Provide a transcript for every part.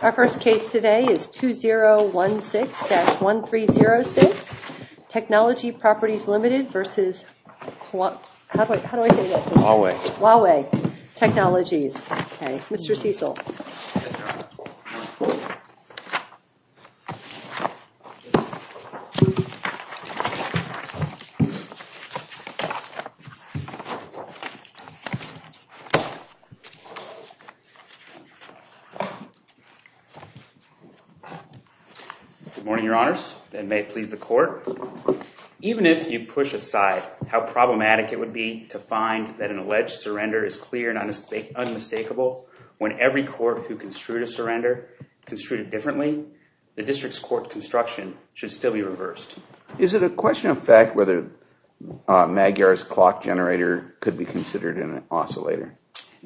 Our first case today is 2016-1306, Technology Properties Limited versus Huawei Technologies. Okay, Mr. Cecil. Good morning, Your Honors, and may it please the Court, even if you push aside how problematic it would be to find that an alleged surrender is clear and unmistakable when every court who construed a surrender construed it differently, the district's court construction should still be reversed. Is it a question of fact whether Magyar's clock generator could be considered an oscillator?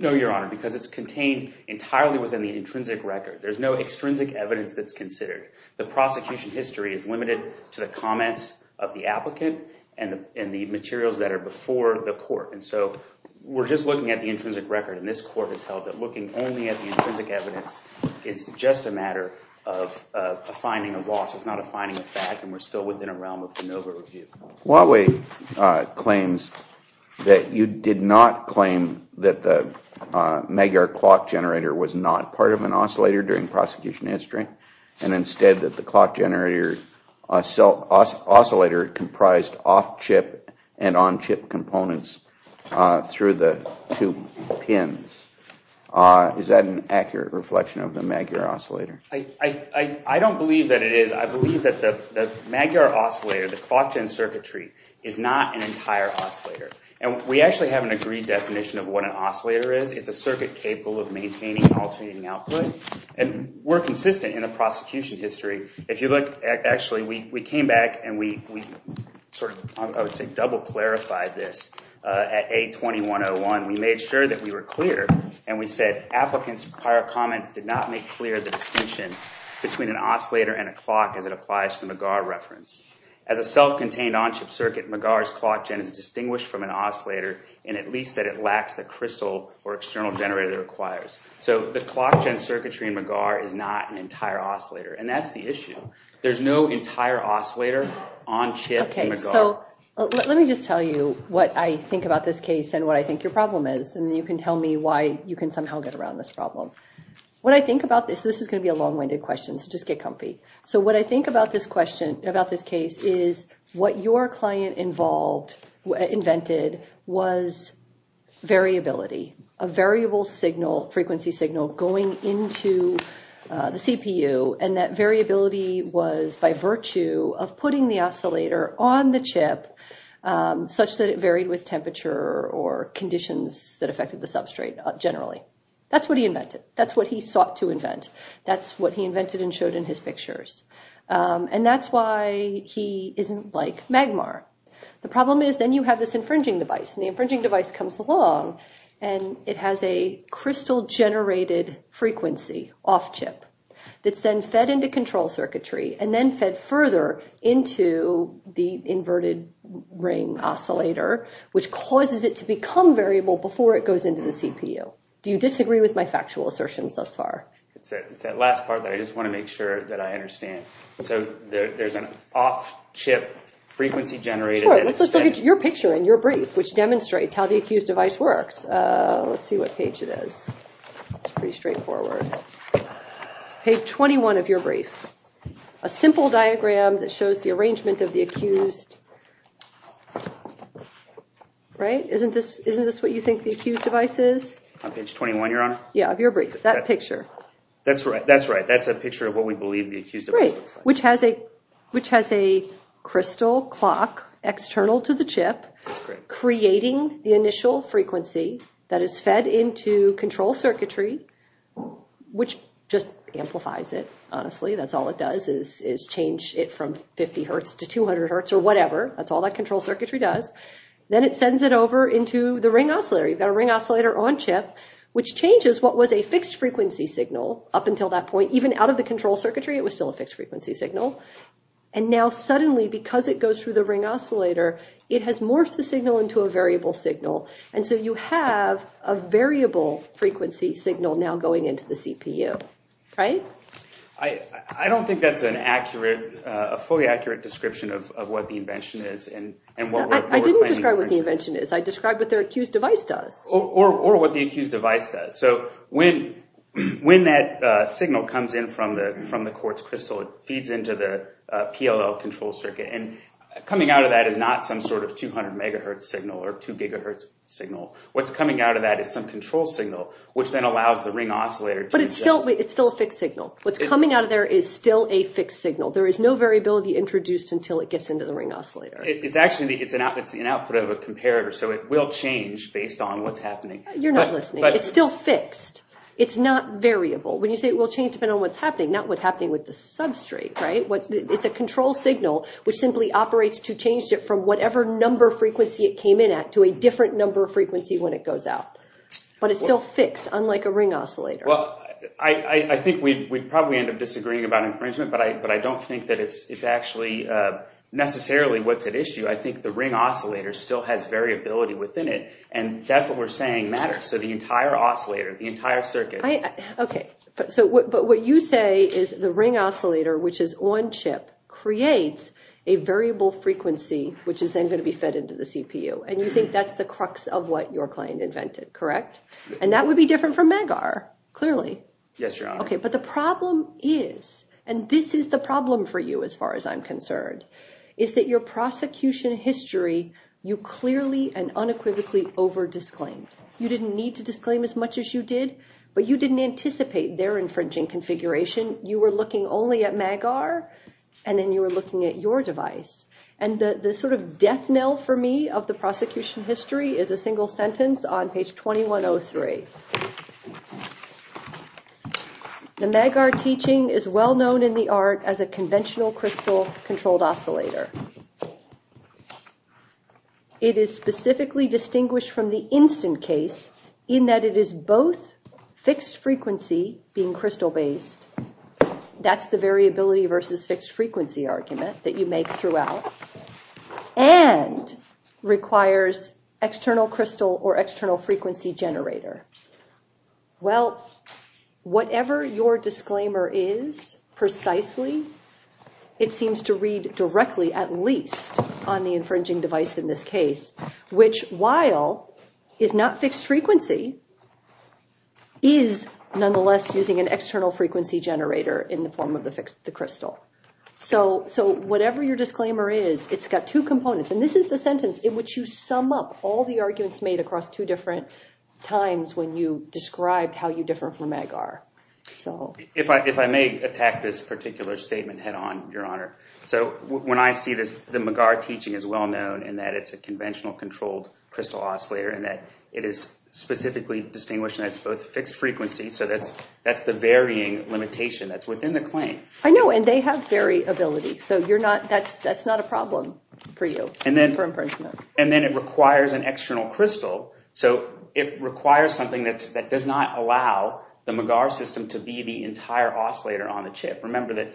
No, Your Honor, because it's contained entirely within the intrinsic record. There's no extrinsic evidence that's considered. The prosecution history is limited to the comments of the applicant and the materials that are before the court, and so we're just looking at the intrinsic record, and this court has held that looking only at the intrinsic evidence is just a matter of finding a loss. It's not a finding of fact, and we're still within a realm of de novo review. Huawei claims that you did not claim that the Magyar clock generator was not part of an oscillator during prosecution history, and instead that the clock generator oscillator comprised off-chip and on-chip components through the two pins. Is that an accurate reflection of the Magyar oscillator? I don't believe that it is. I believe that the Magyar oscillator, the clock gen circuitry, is not an entire oscillator, and we actually have an agreed definition of what an oscillator is. It's a circuit capable of maintaining alternating output, and we're consistent in the prosecution history. Actually, we came back and we sort of, I would say, double-clarified this at 8-21-01. We made sure that we were clear, and we said applicants' prior comments did not make clear the distinction between an oscillator and a clock as it applies to the Magyar reference. As a self-contained on-chip circuit, Magyar's clock gen is distinguished from an oscillator in at least that it lacks the crystal or external generator it requires. So the clock gen circuitry in Magyar is not an entire oscillator, and that's the issue. There's no entire oscillator on-chip in Magyar. Okay, so let me just tell you what I think about this case and what I think your problem is, and then you can tell me why you can somehow get around this problem. What I think about this, this is going to be a long-winded question, so just get comfy. So what I think about this question, about this case, is what your client involved, invented, was variability, a variable signal, frequency signal, going into the CPU, and that variability was by virtue of putting the oscillator on the chip such that it varied with temperature or conditions that affected the substrate generally. That's what he invented. That's what he sought to invent. That's what he invented and showed in his pictures. And that's why he isn't like Magmar. The problem is then you have this infringing device, and the infringing device comes along and it has a crystal-generated frequency off-chip that's then fed into control circuitry and then fed further into the inverted ring oscillator, which causes it to become variable before it goes into the CPU. Do you disagree with my factual assertions thus far? It's that last part that I just want to make sure that I understand. So there's an off-chip frequency generated. Sure, let's look at your picture in your brief, which demonstrates how the accused device works. Let's see what page it is. It's pretty straightforward. Page 21 of your brief. A simple diagram that shows the arrangement of the accused, right? Isn't this what you think the accused device is? On page 21, Your Honor? Yeah, of your brief. That picture. That's right. That's a picture of what we believe the accused device looks like. Which has a crystal clock external to the chip, creating the initial frequency that is fed into control circuitry, which just amplifies it, honestly. That's all it does is change it from 50 Hz to 200 Hz or whatever. That's all that control circuitry does. Then it sends it over into the ring oscillator. You've got a ring oscillator on-chip, which changes what was a fixed frequency signal up until that point. Even out of the control circuitry, it was still a fixed frequency signal. Now suddenly, because it goes through the ring oscillator, it has morphed the signal into a variable signal. You have a variable frequency signal now going into the CPU. I don't think that's a fully accurate description of what the invention is. I didn't describe what the invention is. I described what the accused device does. Or what the accused device does. When that signal comes in from the quartz crystal, it feeds into the PLL control circuit. Coming out of that is not some sort of 200 MHz signal or 2 GHz signal. What's coming out of that is some control signal, which then allows the ring oscillator to adjust. But it's still a fixed signal. What's coming out of there is still a fixed signal. There is no variability introduced until it gets into the ring oscillator. It's actually an output of a comparator, so it will change based on what's happening. You're not listening. It's still fixed. It's not variable. When you say it will change based on what's happening, not what's happening with the substrate. It's a control signal, which simply operates to change it from whatever number frequency it came in at to a different number of frequency when it goes out. But it's still fixed, unlike a ring oscillator. I think we'd probably end up disagreeing about infringement, but I don't think that it's actually necessarily what's at issue. I think the ring oscillator still has variability within it, and that's what we're saying matters. So the entire oscillator, the entire circuit. But what you say is the ring oscillator, which is on-chip, creates a variable frequency, which is then going to be fed into the CPU, and you think that's the crux of what your client invented, correct? And that would be different from MAGAR, clearly. Yes, Your Honor. But the problem is, and this is the problem for you as far as I'm concerned, is that your prosecution history, you clearly and unequivocally over-disclaimed. You didn't need to disclaim as much as you did, but you didn't anticipate their infringing configuration. You were looking only at MAGAR, and then you were looking at your device. And the sort of death knell for me of the prosecution history is a single sentence on page 2103. The MAGAR teaching is well-known in the art as a conventional crystal-controlled oscillator. It is specifically distinguished from the instant case in that it is both fixed-frequency, being crystal-based, that's the variability versus fixed-frequency argument that you make throughout, and requires external crystal or external frequency generator. Well, whatever your disclaimer is, precisely, it seems to read directly, at least, on the infringing device in this case, which, while is not fixed-frequency, is nonetheless using an external frequency generator in the form of the crystal. So whatever your disclaimer is, it's got two components, and this is the sentence in which you sum up all the arguments made across two different times when you described how you differ from MAGAR. If I may attack this particular statement head-on, Your Honor. So when I see this, the MAGAR teaching is well-known in that it's a conventional controlled crystal oscillator, and that it is specifically distinguished in that it's both fixed-frequency, so that's the varying limitation that's within the claim. I know, and they have variability, so that's not a problem for you, for infringement. And then it requires an external crystal, so it requires something that does not allow the MAGAR system to be the entire oscillator on the chip. Remember that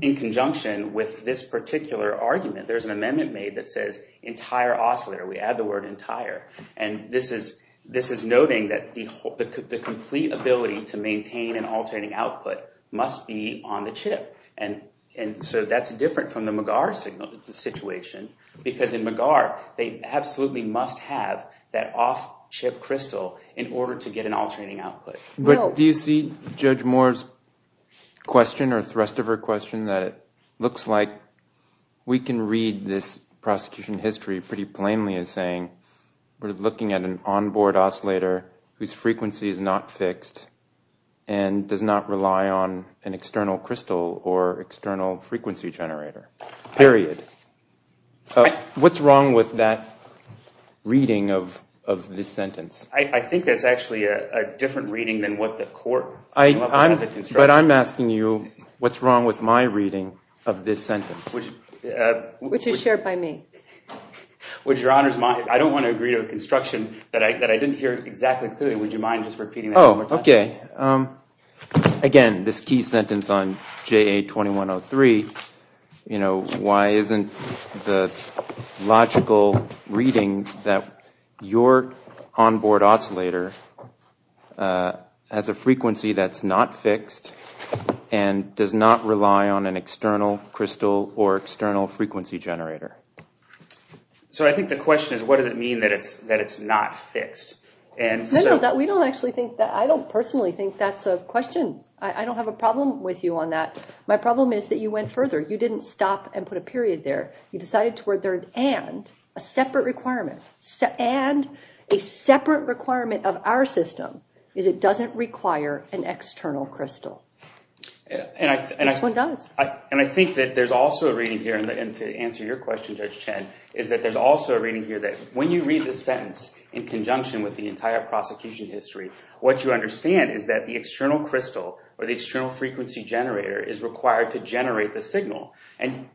in conjunction with this particular argument, there's an amendment made that says entire oscillator, we add the word entire, and this is noting that the complete ability to maintain an alternating output must be on the chip, and so that's different from the MAGAR situation, because in MAGAR, they absolutely must have that off-chip crystal in order to get an alternating output. But do you see Judge Moore's question, or the rest of her question, that it looks like we can read this prosecution history pretty plainly as saying we're looking at an onboard oscillator whose frequency is not fixed and does not rely on an external crystal or external frequency generator, period. What's wrong with that reading of this sentence? I think that's actually a different reading than what the court came up with as a construction. But I'm asking you, what's wrong with my reading of this sentence? Which is shared by me. Would Your Honor's mind, I don't want to agree to a construction that I didn't hear exactly clearly, would you mind just repeating that one more time? Okay, again, this key sentence on JA2103, why isn't the logical reading that your onboard oscillator has a frequency that's not fixed and does not rely on an external crystal or external frequency generator? So I think the question is, what does it mean that it's not fixed? No, we don't actually think that. I don't personally think that's a question. I don't have a problem with you on that. My problem is that you went further. You didn't stop and put a period there. You decided to where there, and a separate requirement, and a separate requirement of our system is it doesn't require an external crystal. This one does. I think that there's also a reading here, and to answer your question, Judge Chen, is that there's also a reading here that when you read the sentence in conjunction with the entire prosecution history, what you understand is that the external crystal or the external frequency generator is required to generate the signal.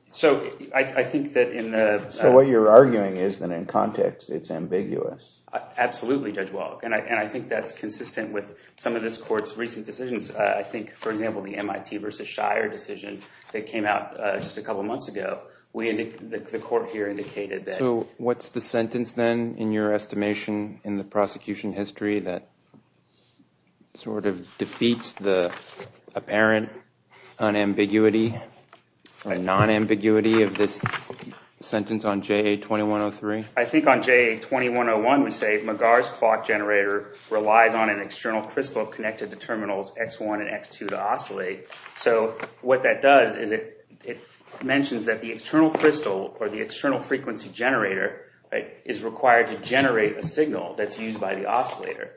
So what you're arguing is that in context, it's ambiguous. Absolutely, Judge Wallach, and I think that's consistent with some of this court's recent decisions. I think, for example, the MIT versus Shire decision that came out just a couple months ago, the court here indicated that. So what's the sentence then in your estimation in the prosecution history that sort of defeats the apparent unambiguity or non-ambiguity of this sentence on JA-2103? I think on JA-2101, we say McGar's clock generator relies on an external crystal connected to terminals X1 and X2 to oscillate. So what that does is it mentions that the external crystal or the external frequency generator is required to generate a signal that's used by the oscillator.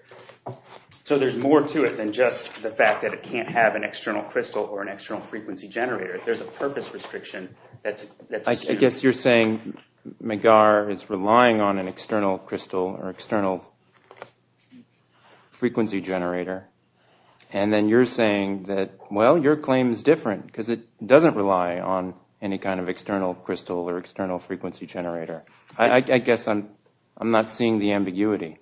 So there's more to it than just the fact that it can't have an external crystal or an external frequency generator. There's a purpose restriction that's assumed. I guess you're saying McGar is relying on an external crystal or external frequency generator. And then you're saying that, well, your claim is different because it doesn't rely on any kind of external crystal or external frequency generator. I guess I'm not seeing the ambiguity.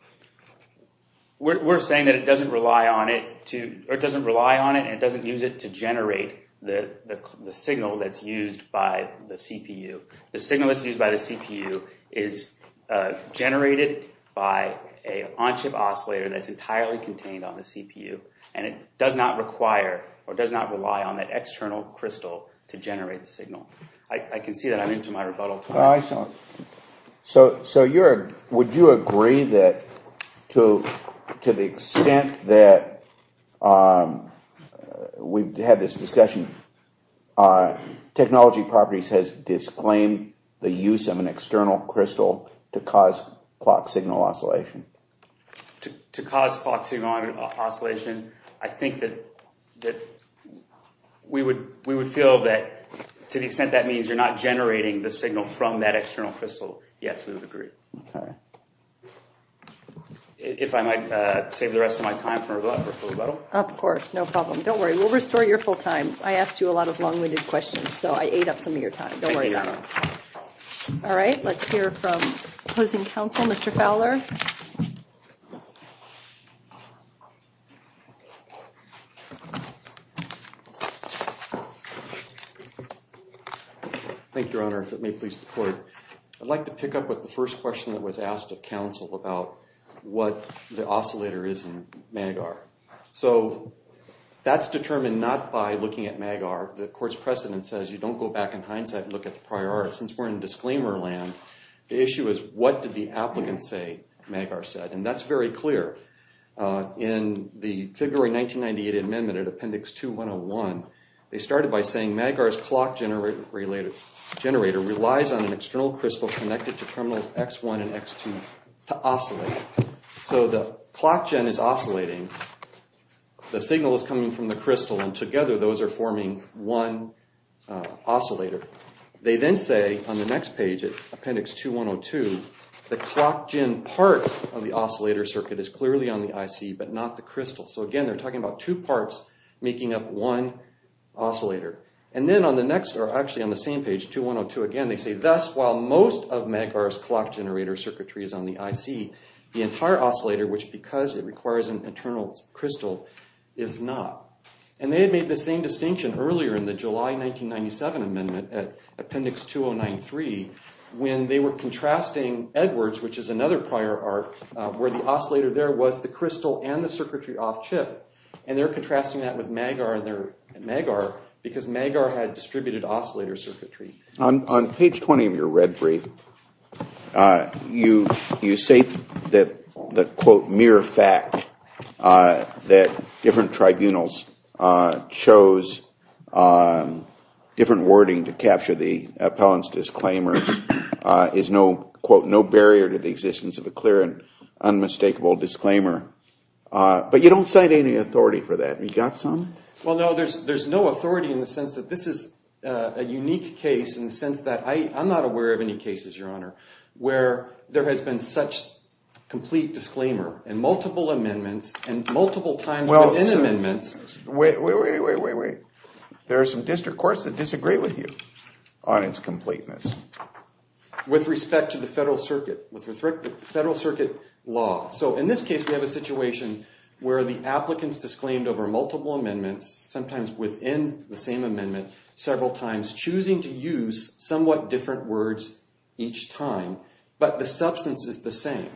We're saying that it doesn't rely on it and it doesn't use it to generate the signal that's used by the CPU. The signal that's used by the CPU is generated by an on-chip oscillator that's entirely contained on the CPU. And it does not require or does not rely on that external crystal to generate the signal. I can see that I'm into my rebuttal. So would you agree that to the extent that we've had this discussion, technology properties has disclaimed the use of an external crystal to cause clock signal oscillation? To cause clock signal oscillation, I think that we would feel that to the extent that means you're not generating the signal from that external crystal, yes, we would agree. If I might save the rest of my time for a rebuttal. Of course. No problem. Don't worry. We'll restore your full time. I asked you a lot of long-winded questions, so I ate up some of your time. Don't worry about it. All right. Let's hear from opposing counsel, Mr. Fowler. Thank you, Your Honor. If it may please the court, I'd like to pick up with the first question that was asked of counsel about what the oscillator is in MAG-R. So that's determined not by looking at MAG-R. The court's precedent says you don't go back in hindsight and look at the prior art. Since we're in disclaimer land, the issue is what did the applicant say MAG-R said? That's very clear. In the February 1998 amendment at Appendix 2101, they started by saying MAG-R's clock generator relies on an external crystal connected to terminals X1 and X2 to oscillate. So the clock gen is oscillating. The signal is coming from the crystal, and together those are forming one oscillator. They then say on the next page at Appendix 2102, the clock gen part of the oscillator circuit is clearly on the IC, but not the crystal. So again, they're talking about two parts making up one oscillator. And then on the next, or actually on the same page, 2102 again, they say, thus, while most of MAG-R's clock generator circuitry is on the IC, the entire oscillator, which because it requires an internal crystal, is not. And they had made the same distinction earlier in the July 1997 amendment at Appendix 2093, when they were contrasting Edwards, which is another prior art, where the oscillator there was the crystal and the circuitry off chip. And they're contrasting that with MAG-R and their MAG-R, because MAG-R had distributed oscillator circuitry. On page 20 of your red brief, you say that the, quote, mere fact that different tribunals chose different wording to capture the appellant's disclaimers is no, quote, no barrier to the existence of a clear and unmistakable disclaimer. But you don't cite any authority for that. You got some? Well, no, there's no authority in the sense that this is a unique case in the sense that I'm not aware of any cases, Your Honor, where there has been such complete disclaimer in multiple amendments and multiple times within amendments. Wait, wait, wait, wait, wait, wait. There are some district courts that disagree with you on its completeness. With respect to the federal circuit, with respect to the federal circuit law. In this case, we have a situation where the applicants disclaimed over multiple amendments, sometimes within the same amendment, several times, choosing to use somewhat different words each time. But the substance is the same.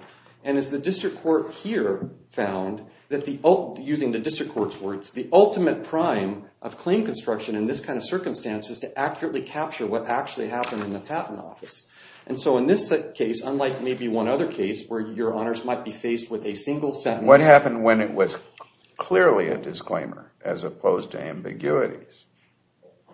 And as the district court here found that the, using the district court's words, the ultimate prime of claim construction in this kind of circumstance is to accurately capture what actually happened in the patent office. And so in this case, unlike maybe one other case where Your Honors might be faced with a single sentence. What happened when it was clearly a disclaimer as opposed to ambiguities?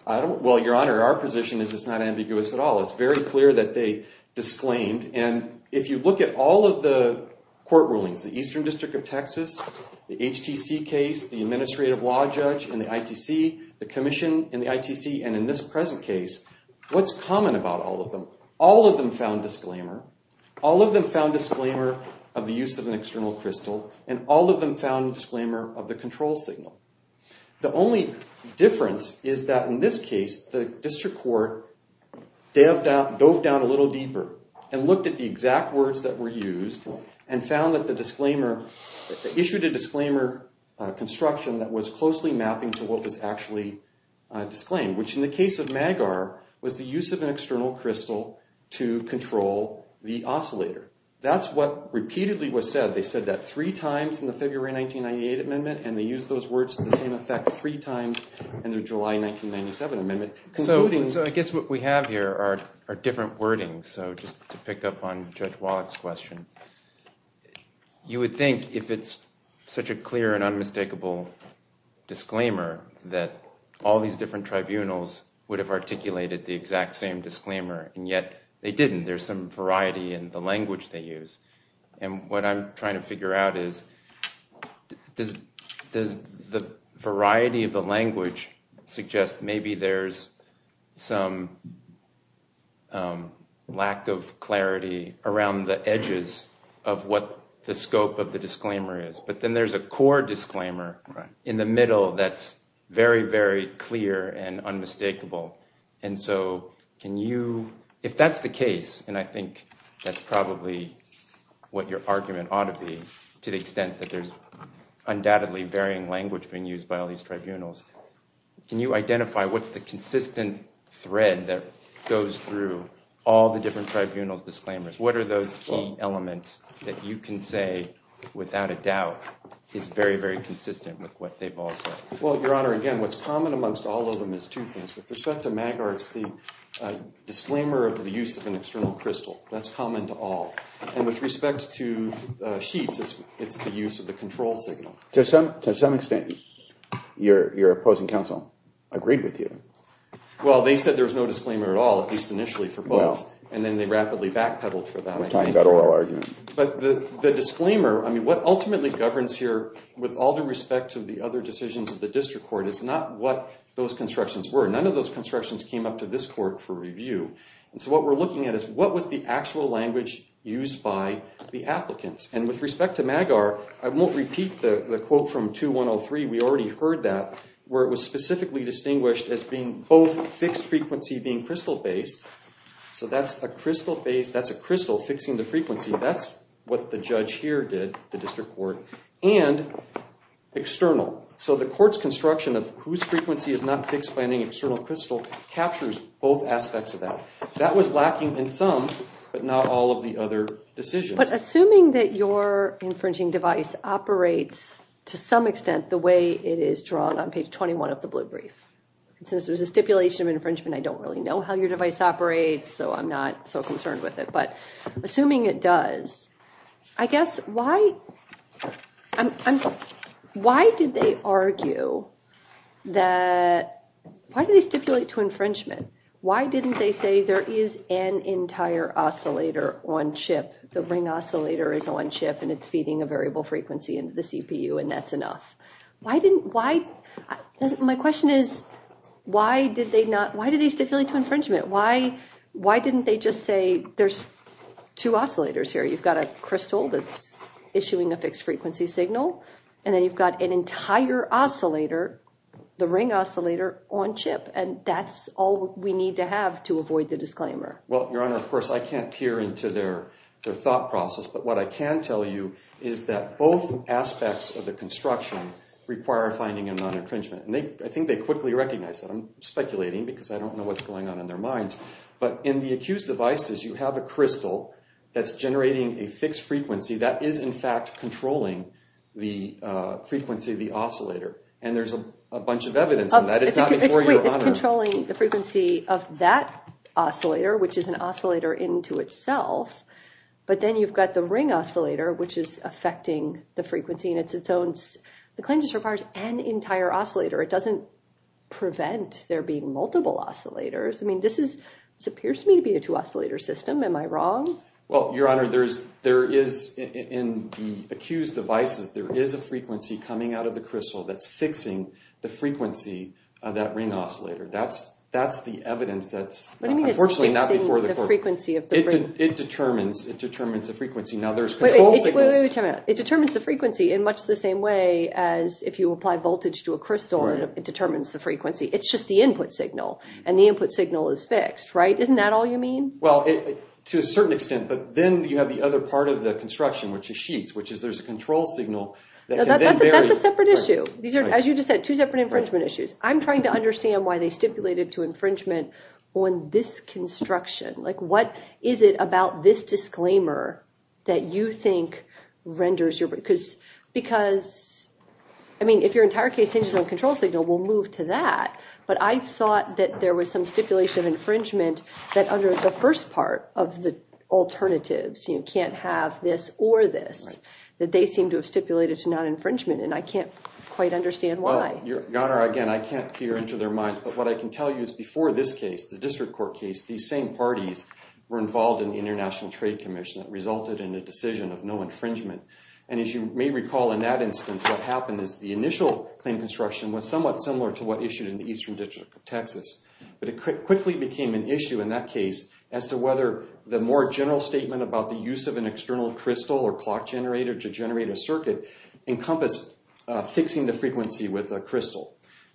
Well, Your Honor, our position is it's not ambiguous at all. It's very clear that they disclaimed. And if you look at all of the court rulings, the Eastern District of Texas, the HTC case, the administrative law judge in the ITC, the commission in the ITC, and in this present case, what's common about all of them? All of them found disclaimer. All of them found disclaimer of the use of an external crystal. And all of them found disclaimer of the control signal. The only difference is that in this case, the district court dove down a little deeper and looked at the exact words that were used and found that the disclaimer, issued a disclaimer construction that was closely mapping to what was actually disclaimed, which in the case of Magar was the use of an external crystal to control the oscillator. That's what repeatedly was said. They said that three times in the February 1998 amendment. And they used those words to the same effect three times in the July 1997 amendment. So I guess what we have here are different wordings. So just to pick up on Judge Wallach's question, you would think if it's such a clear and articulated, the exact same disclaimer. And yet they didn't. There's some variety in the language they use. And what I'm trying to figure out is, does the variety of the language suggest maybe there's some lack of clarity around the edges of what the scope of the disclaimer is? But then there's a core disclaimer in the middle that's very, very clear and unmistakable. And so can you, if that's the case, and I think that's probably what your argument ought to be, to the extent that there's undoubtedly varying language being used by all these tribunals, can you identify what's the consistent thread that goes through all the different tribunals disclaimers? What are those key elements that you can say without a doubt is very, very consistent with what they've all said? Well, Your Honor, again, what's common amongst all of them is two things. With respect to MAGAR, it's the disclaimer of the use of an external crystal. That's common to all. And with respect to sheets, it's the use of the control signal. To some extent, your opposing counsel agreed with you. Well, they said there was no disclaimer at all, at least initially for both. And then they rapidly backpedaled for that. We're talking about oral argument. But the disclaimer, I mean, what ultimately governs here with all due respect to the other decisions of the district court is not what those constructions were. None of those constructions came up to this court for review. And so what we're looking at is what was the actual language used by the applicants? And with respect to MAGAR, I won't repeat the quote from 2103. We already heard that, where it was specifically distinguished as being both fixed frequency being crystal-based. So that's a crystal fixing the frequency. That's what the judge here did, the district court. And external. So the court's construction of whose frequency is not fixed by any external crystal captures both aspects of that. That was lacking in some, but not all of the other decisions. But assuming that your infringing device operates, to some extent, the way it is drawn on page 21 of the blue brief, and since there's a stipulation of infringement, I don't really know how your device operates. So I'm not so concerned with it. Assuming it does, I guess, why did they argue that, why did they stipulate to infringement? Why didn't they say there is an entire oscillator on chip, the ring oscillator is on chip, and it's feeding a variable frequency into the CPU, and that's enough? My question is, why did they stipulate to infringement? Why didn't they just say there's two oscillators here? You've got a crystal that's issuing a fixed frequency signal, and then you've got an entire oscillator, the ring oscillator, on chip. And that's all we need to have to avoid the disclaimer. Well, Your Honor, of course, I can't peer into their thought process. But what I can tell you is that both aspects of the construction require finding a non-infringement. And I think they quickly recognized that. I'm speculating because I don't know what's going on in their minds. But in the accused devices, you have a crystal that's generating a fixed frequency that is, in fact, controlling the frequency of the oscillator. And there's a bunch of evidence in that. It's not before you, Your Honor. It's controlling the frequency of that oscillator, which is an oscillator into itself. But then you've got the ring oscillator, which is affecting the frequency. And the claim just requires an entire oscillator. It doesn't prevent there being multiple oscillators. I mean, this appears to me to be a two-oscillator system. Am I wrong? Well, Your Honor, in the accused devices, there is a frequency coming out of the crystal that's fixing the frequency of that ring oscillator. That's the evidence that's, unfortunately, not before the court. What do you mean it's fixing the frequency of the ring? It determines the frequency. Now, there's control signals. Wait a minute. It determines the frequency in much the same way as if you apply voltage to a crystal. It determines the frequency. It's just the input signal. And the input signal is fixed, right? Isn't that all you mean? Well, to a certain extent. But then you have the other part of the construction, which is sheets, which is there's a control signal that can then vary. That's a separate issue. These are, as you just said, two separate infringement issues. I'm trying to understand why they stipulated to infringement on this construction. Like, what is it about this disclaimer that you think renders your... Because, I mean, if your entire case hinges on control signal, we'll move to that. But I thought that there was some stipulation of infringement that under the first part of the alternatives, you can't have this or this, that they seem to have stipulated to non-infringement. And I can't quite understand why. Your Honor, again, I can't peer into their minds. But what I can tell you is before this case, the district court case, these same parties were involved in the International Trade Commission that resulted in a decision of no infringement. And as you may recall in that instance, what happened is the initial claim construction was somewhat similar to what issued in the Eastern District of Texas. But it quickly became an issue in that case as to whether the more general statement about the use of an external crystal or clock generator to generate a circuit encompassed fixing the frequency with a crystal.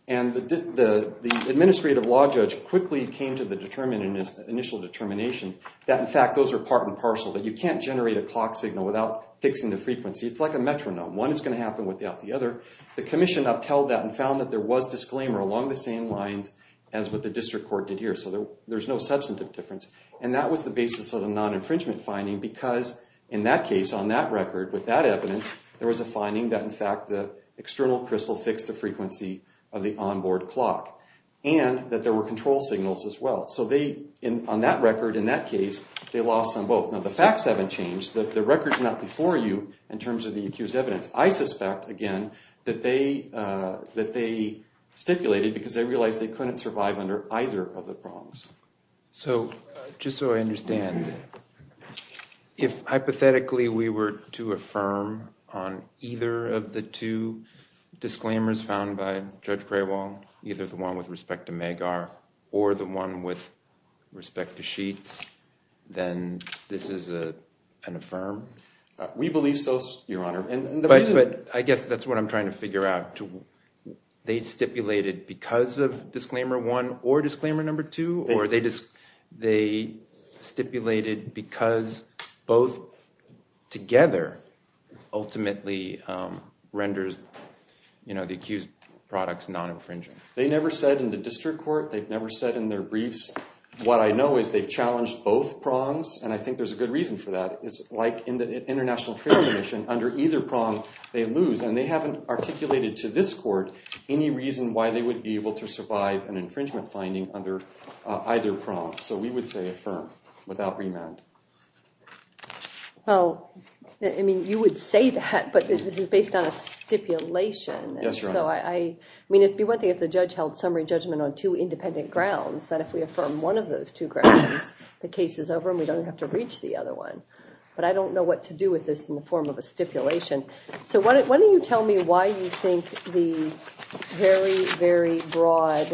And the administrative law judge quickly came to the initial determination that, in fact, those are part and parcel, that you can't generate a clock signal without fixing the frequency. It's like a metronome. One is going to happen without the other. The commission upheld that and found that there was disclaimer along the same lines as what the district court did here. So there's no substantive difference. And that was the basis of the non-infringement finding. Because in that case, on that record, with that evidence, there was a finding that, in fact, the external crystal fixed the frequency of the onboard clock and that there were control signals as well. So on that record, in that case, they lost on both. The facts haven't changed. The record's not before you in terms of the accused evidence. I suspect, again, that they stipulated because they realized they couldn't survive under either of the prongs. So just so I understand, if hypothetically we were to affirm on either of the two disclaimers found by Judge Craywell, either the one with respect to MAGAR or the one with respect to sheets, then this is an affirm? We believe so, Your Honor. But I guess that's what I'm trying to figure out. They stipulated because of disclaimer one or disclaimer number two? Or they stipulated because both together ultimately renders the accused products non-infringing? They never said in the district court. They've never said in their briefs. What I know is they've challenged both prongs. And I think there's a good reason for that. It's like in the international trade commission. Under either prong, they lose. And they haven't articulated to this court any reason why they would be able to survive an infringement finding under either prong. So we would say affirm without remand. Well, I mean, you would say that. But this is based on a stipulation. Yes, Your Honor. I mean, it'd be one thing if the judge held summary judgment on two independent grounds, that if we affirm one of those two grounds, the case is over, and we don't have to reach the other one. But I don't know what to do with this in the form of a stipulation. So why don't you tell me why you think the very, very broad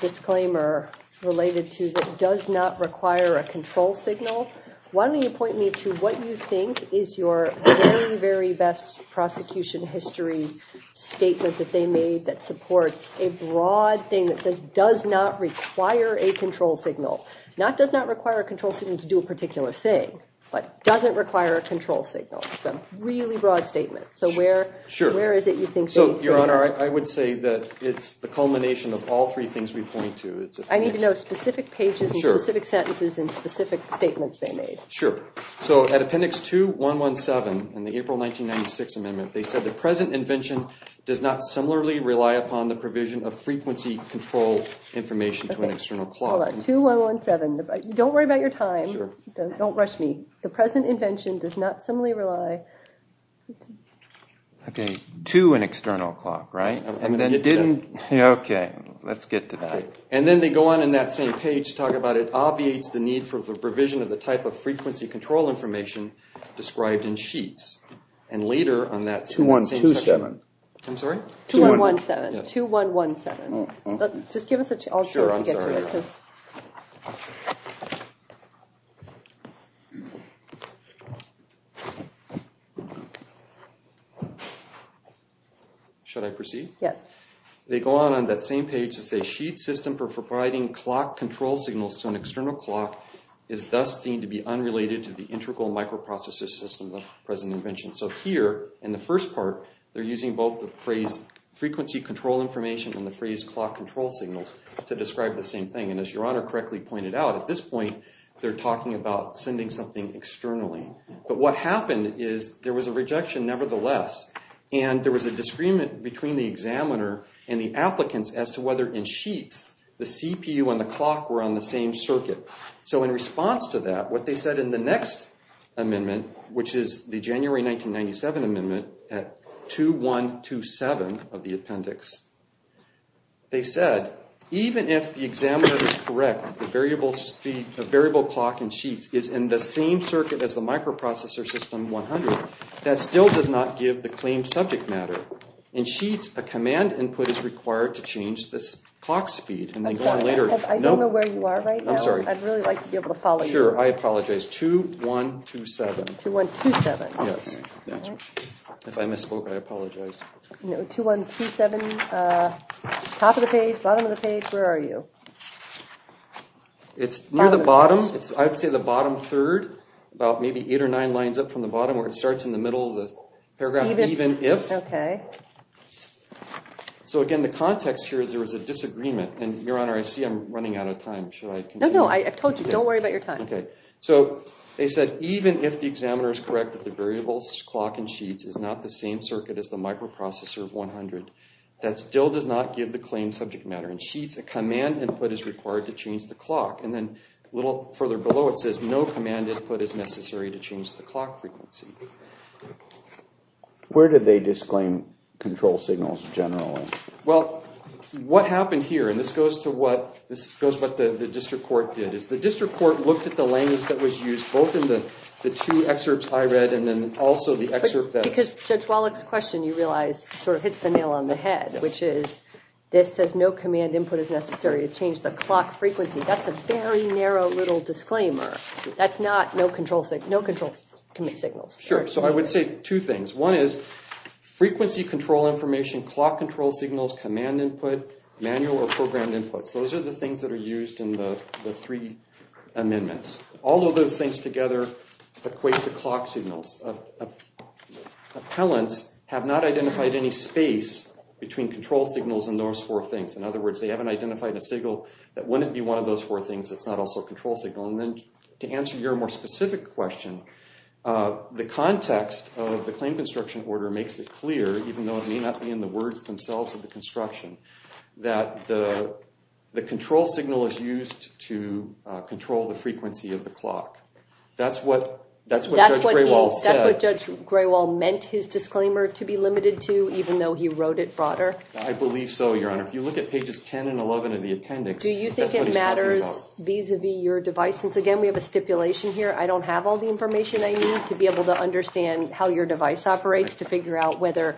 disclaimer related to that does not require a control signal, why don't you point me to what you think is your very, very best prosecution history statement that they made that supports a broad thing that says does not require a control signal. Not does not require a control signal to do a particular thing, but doesn't require a control signal. It's a really broad statement. So where is it you think? So, Your Honor, I would say that it's the culmination of all three things we point to. I need to know specific pages and specific sentences and specific statements they made. Sure. So at appendix 2117 in the April 1996 amendment, they said the present invention does not similarly rely upon the provision of frequency control information to an external clock. 2117. Don't worry about your time. Don't rush me. The present invention does not similarly rely... Okay, to an external clock, right? Okay, let's get to that. And then they go on in that same page to talk about it obviates the need for the provision of the type of frequency control information described in sheets. And later on that same... 2127. I'm sorry? 2117. 2117. Just give us a chance. Sure, I'm sorry. Should I proceed? Yes. They go on on that same page to say sheet system for providing clock control signals to an external clock is thus deemed to be unrelated to the integral microprocessor system of the present invention. So here in the first part, they're using both the phrase frequency control information and the phrase clock control signals to describe the same thing. And as Your Honor correctly pointed out, at this point, they're talking about sending something externally. But what happened is there was a rejection nevertheless, and there was a disagreement between the examiner and the applicants as to whether in sheets, the CPU and the clock were on the same circuit. So in response to that, what they said in the next amendment, which is the January 1997 amendment at 2127 of the appendix, they said, even if the examiner is correct, the variable clock in sheets is in the same circuit as the microprocessor system 100, that still does not give the claimed subject matter. In sheets, a command input is required to change this clock speed. And they go on later. I don't know where you are right now. I'm sorry. I'd really like to be able to follow you. Sure. I apologize. 2127. 2127. Yes. If I misspoke, I apologize. No. 2127, top of the page, bottom of the page. Where are you? It's near the bottom. I'd say the bottom third, about maybe eight or nine lines up from the bottom where it starts in the middle of the paragraph, even if. OK. So again, the context here is there was a disagreement. And Your Honor, I see I'm running out of time. Should I continue? No, no. I told you. Don't worry about your time. OK. So they said, even if the examiner is correct that the variable clock in sheets is not the same circuit as the microprocessor of 100, that still does not give the claimed subject matter. In sheets, a command input is required to change the clock. And then a little further below, it says, no command input is necessary to change the clock frequency. Where did they disclaim control signals generally? Well, what happened here, and this goes to what the district court did, is the district court looked at the language that was used both in the two excerpts I read and then also the excerpt that's- Because Judge Wallach's question, you realize, sort of hits the nail on the head, which is this says, no command input is necessary to change the clock frequency. That's a very narrow little disclaimer. That's not no control signal, no control signal. Sure. So I would say two things. One is frequency control information, clock control signals, command input, manual or programmed inputs. Those are the things that are used in the three amendments. All of those things together equate to clock signals. Appellants have not identified any space between control signals and those four things. In other words, they haven't identified a signal that wouldn't be one of those four things that's not also a control signal. To answer your more specific question, the context of the claim construction order makes it clear, even though it may not be in the words themselves of the construction, that the control signal is used to control the frequency of the clock. That's what Judge Graywall said. That's what Judge Graywall meant his disclaimer to be limited to, even though he wrote it broader? I believe so, Your Honor. If you look at pages 10 and 11 of the appendix, that's what he's talking about. Vis-a-vis your device. Since, again, we have a stipulation here, I don't have all the information I need to be able to understand how your device operates to figure out whether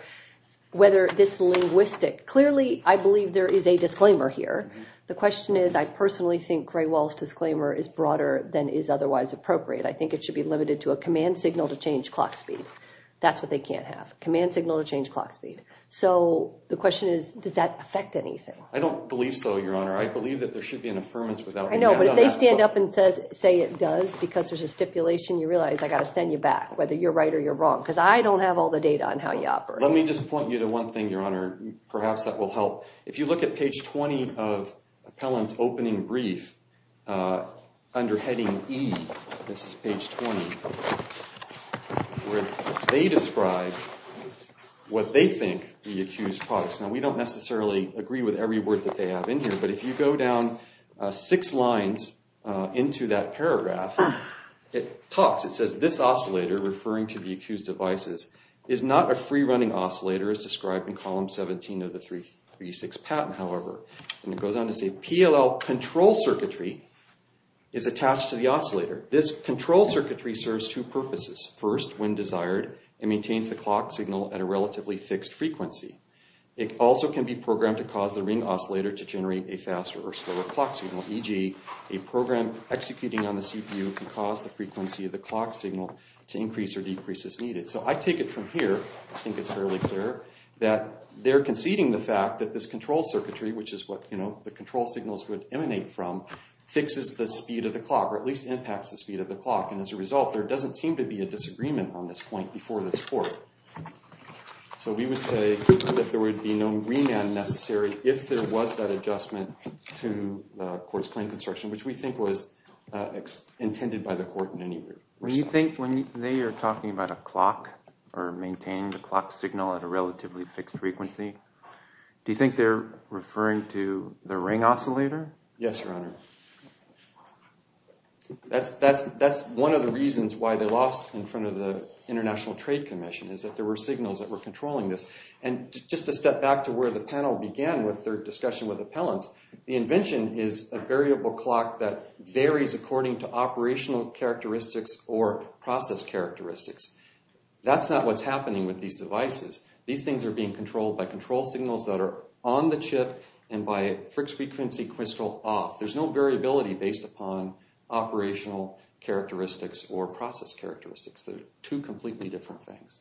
this linguistic... Clearly, I believe there is a disclaimer here. The question is, I personally think Graywall's disclaimer is broader than is otherwise appropriate. I think it should be limited to a command signal to change clock speed. That's what they can't have, command signal to change clock speed. So the question is, does that affect anything? I don't believe so, Your Honor. I believe that there should be an affirmance without... I know, but if they stand up and say it does because there's a stipulation, you realize I got to send you back, whether you're right or you're wrong, because I don't have all the data on how you operate. Let me just point you to one thing, Your Honor, perhaps that will help. If you look at page 20 of Appellant's opening brief under heading E, this is page 20, where they describe what they think the accused products. We don't necessarily agree with every word that they have in here, but if you go down six lines into that paragraph, it talks. It says, this oscillator, referring to the accused devices, is not a free-running oscillator as described in column 17 of the 336 patent, however. And it goes on to say, PLL control circuitry is attached to the oscillator. This control circuitry serves two purposes. First, when desired, it maintains the clock signal at a relatively fixed frequency. It also can be programmed to cause the ring oscillator to generate a faster or slower clock signal, e.g., a program executing on the CPU can cause the frequency of the clock signal to increase or decrease as needed. So I take it from here, I think it's fairly clear, that they're conceding the fact that this control circuitry, which is what the control signals would emanate from, fixes the speed of the clock, or at least impacts the speed of the clock. And as a result, there doesn't seem to be a disagreement on this point before this court. So we would say that there would be no remand necessary if there was that adjustment to the court's claim construction, which we think was intended by the court in any respect. When you think, when they are talking about a clock, or maintaining the clock signal at a relatively fixed frequency, do you think they're referring to the ring oscillator? Yes, Your Honor. That's one of the reasons why they lost in front of the International Trade Commission is that there were signals that were controlling this. And just to step back to where the panel began with their discussion with appellants, the invention is a variable clock that varies according to operational characteristics or process characteristics. That's not what's happening with these devices. These things are being controlled by control signals that are on the chip and by a fixed frequency crystal off. There's no variability based upon operational characteristics or process characteristics. They're two completely different things.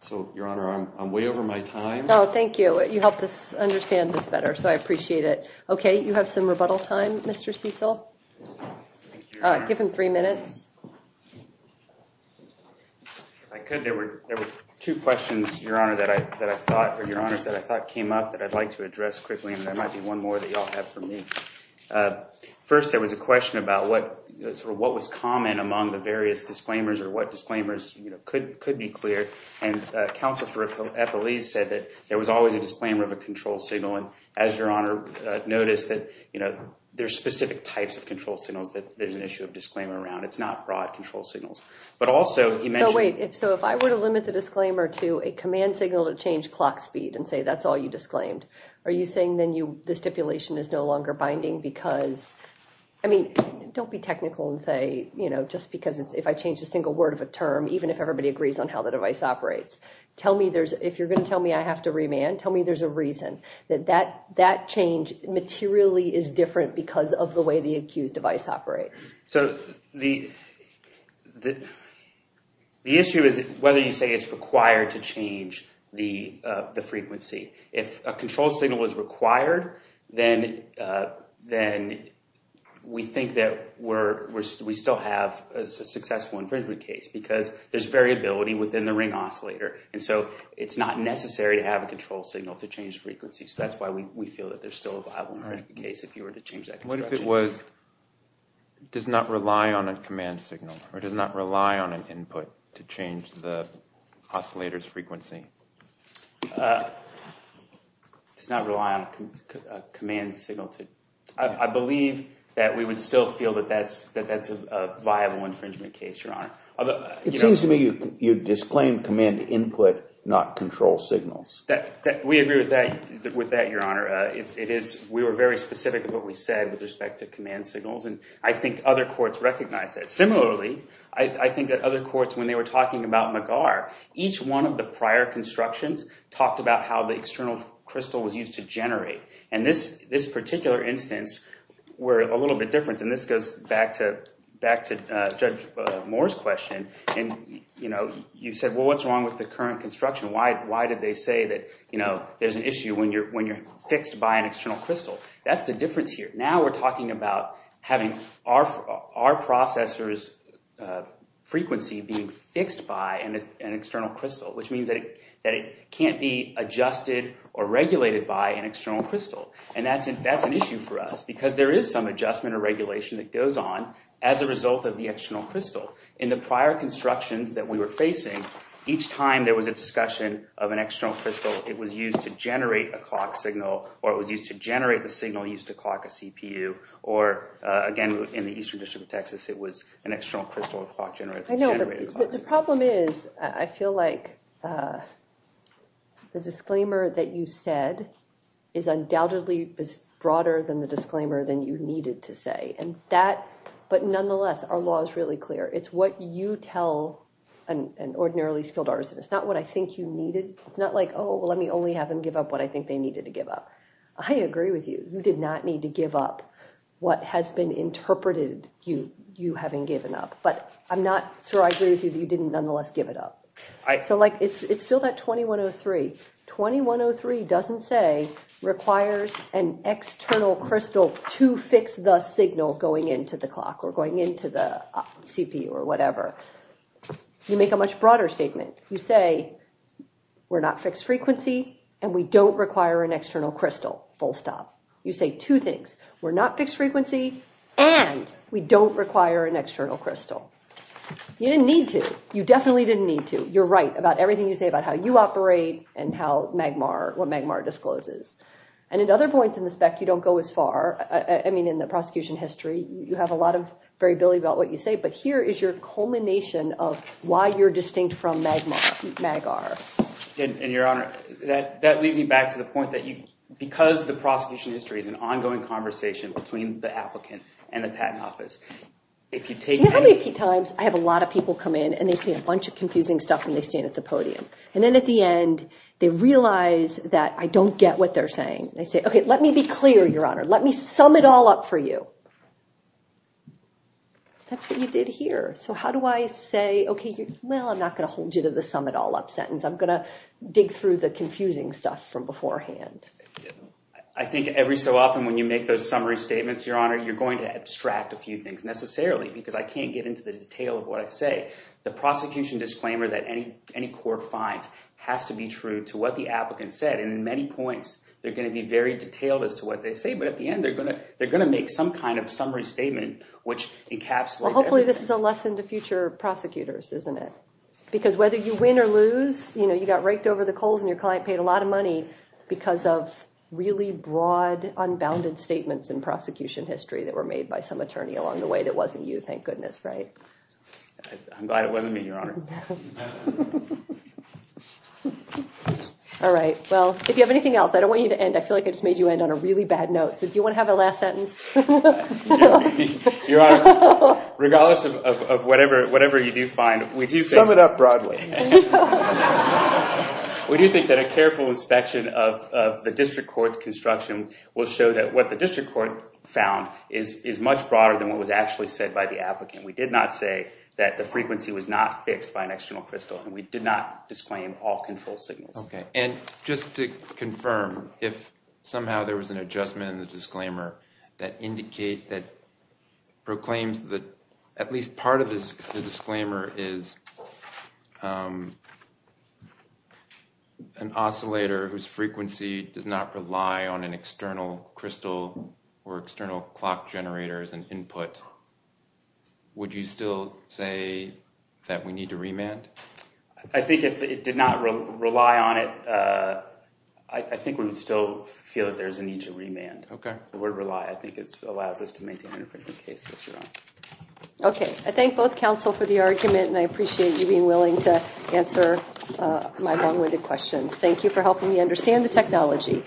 So, Your Honor, I'm way over my time. Oh, thank you. You helped us understand this better. So I appreciate it. OK, you have some rebuttal time, Mr. Cecil. Give him three minutes. If I could, there were two questions, Your Honor, that I thought came up that I'd like to address quickly. And there might be one more that you all have for me. First, there was a question about what was common among the various disclaimers or what disclaimers could be cleared. And Counsel for Appellees said that there was always a disclaimer of a control signal. And as Your Honor noticed, that there are specific types of control signals that there's an issue of disclaimer around. It's not broad control signals. But also, he mentioned- So wait, so if I were to limit the disclaimer to a command signal to change clock speed and say, that's all you disclaimed, are you saying then the stipulation is no longer binding because- I mean, don't be technical and say, you know, just because if I change a single word of a term, even if everybody agrees on how the device operates. Tell me there's- if you're going to tell me I have to remand, tell me there's a reason that that change materially is different because of the way the accused device operates. So the issue is whether you say it's required to change the frequency. If a control signal was required, then we think that we're- we still have a successful infringement case because there's variability within the ring oscillator. And so it's not necessary to have a control signal to change frequency. So that's why we feel that there's still a viable infringement case if you were to change that construction. What if it was- does not rely on a command signal or does not rely on an input to change the oscillator's frequency? Does not rely on a command signal to- I believe that we would still feel that that's a viable infringement case, Your Honor. Although- It seems to me you disclaim command input, not control signals. We agree with that, Your Honor. It is- we were very specific with what we said with respect to command signals. And I think other courts recognize that. Similarly, I think that other courts, when they were talking about McGar, each one of the prior constructions talked about how the external crystal was used to generate. And this particular instance, we're a little bit different. And this goes back to Judge Moore's question. And, you know, you said, well, what's wrong with the current construction? Why did they say that, you know, there's an issue when you're fixed by an external crystal? That's the difference here. Now we're talking about having our processor's frequency being fixed by an external crystal, which means that it can't be adjusted or regulated by an external crystal. And that's an issue for us because there is some adjustment or regulation that goes on as a result of the external crystal. In the prior constructions that we were facing, each time there was a discussion of an external crystal, it was used to generate a clock signal, or it was used to generate the signal used to clock a CPU. Or, again, in the Eastern District of Texas, it was an external crystal clock generator. The problem is, I feel like the disclaimer that you said is undoubtedly broader than the disclaimer than you needed to say. But nonetheless, our law is really clear. It's what you tell an ordinarily skilled artist. It's not what I think you needed. It's not like, oh, well, let me only have them give up what I think they needed to give up. I agree with you. You did not need to give up what has been interpreted you having given up. But I'm not sure I agree with you that you didn't nonetheless give it up. So it's still that 2103. 2103 doesn't say requires an external crystal to fix the signal going into the clock or going into the CPU or whatever. You make a much broader statement. You say, we're not fixed frequency, and we don't require an external crystal, full stop. You say two things. We're not fixed frequency, and we don't require an external crystal. You didn't need to. You definitely didn't need to. You're right about everything you say about how you operate and how Magmar, what Magmar discloses. And in other points in the spec, you don't go as far. I mean, in the prosecution history, you have a lot of variability about what you say. But here is your culmination of why you're distinct from Magmar, MagR. And Your Honor, that leads me back to the point that because the prosecution history is an ongoing conversation between the applicant and the patent office, if you take that- Do you know how many times I have a lot of people come in, and they say a bunch of confusing stuff, and they stand at the podium? And then at the end, they realize that I don't get what they're saying. They say, OK, let me be clear, Your Honor. Let me sum it all up for you. That's what you did here. So how do I say, OK, well, I'm not going to hold you to the sum it all up sentence. I'm going to dig through the confusing stuff from beforehand. I think every so often when you make those summary statements, Your Honor, you're going to abstract a few things, necessarily, because I can't get into the detail of what I say. The prosecution disclaimer that any court finds has to be true to what the applicant said. And in many points, they're going to be very detailed as to what they say. But at the end, they're going to make some kind of summary statement, which encapsulates- Well, hopefully this is a lesson to future prosecutors, isn't it? Because whether you win or lose, you got raked over the coals, and your client paid a lot of money because of really broad, unbounded statements in prosecution history that were made by some attorney along the way that wasn't you, thank goodness, right? I'm glad it wasn't me, Your Honor. All right. Well, if you have anything else, I don't want you to end. I feel like I just made you end on a really bad note. So do you want to have a last sentence? Your Honor, regardless of whatever you do find, we do think- Sum it up broadly. We do think that a careful inspection of the district court's construction will show that what the district court found is much broader than what was actually said by the applicant. We did not say that the frequency was not fixed by an external crystal, and we did not disclaim all control signals. OK. Just to confirm, if somehow there was an adjustment in the disclaimer that proclaims that at least part of the disclaimer is an oscillator whose frequency does not rely on an external crystal or external clock generator as an input, would you still say that we need to remand? I think if it did not rely on it, I think we would still feel that there's a need to remand. OK. It would rely. I think it allows us to maintain an infringement case. OK. I thank both counsel for the argument, and I appreciate you being willing to answer my long-winded questions. Thank you for helping me understand the technology.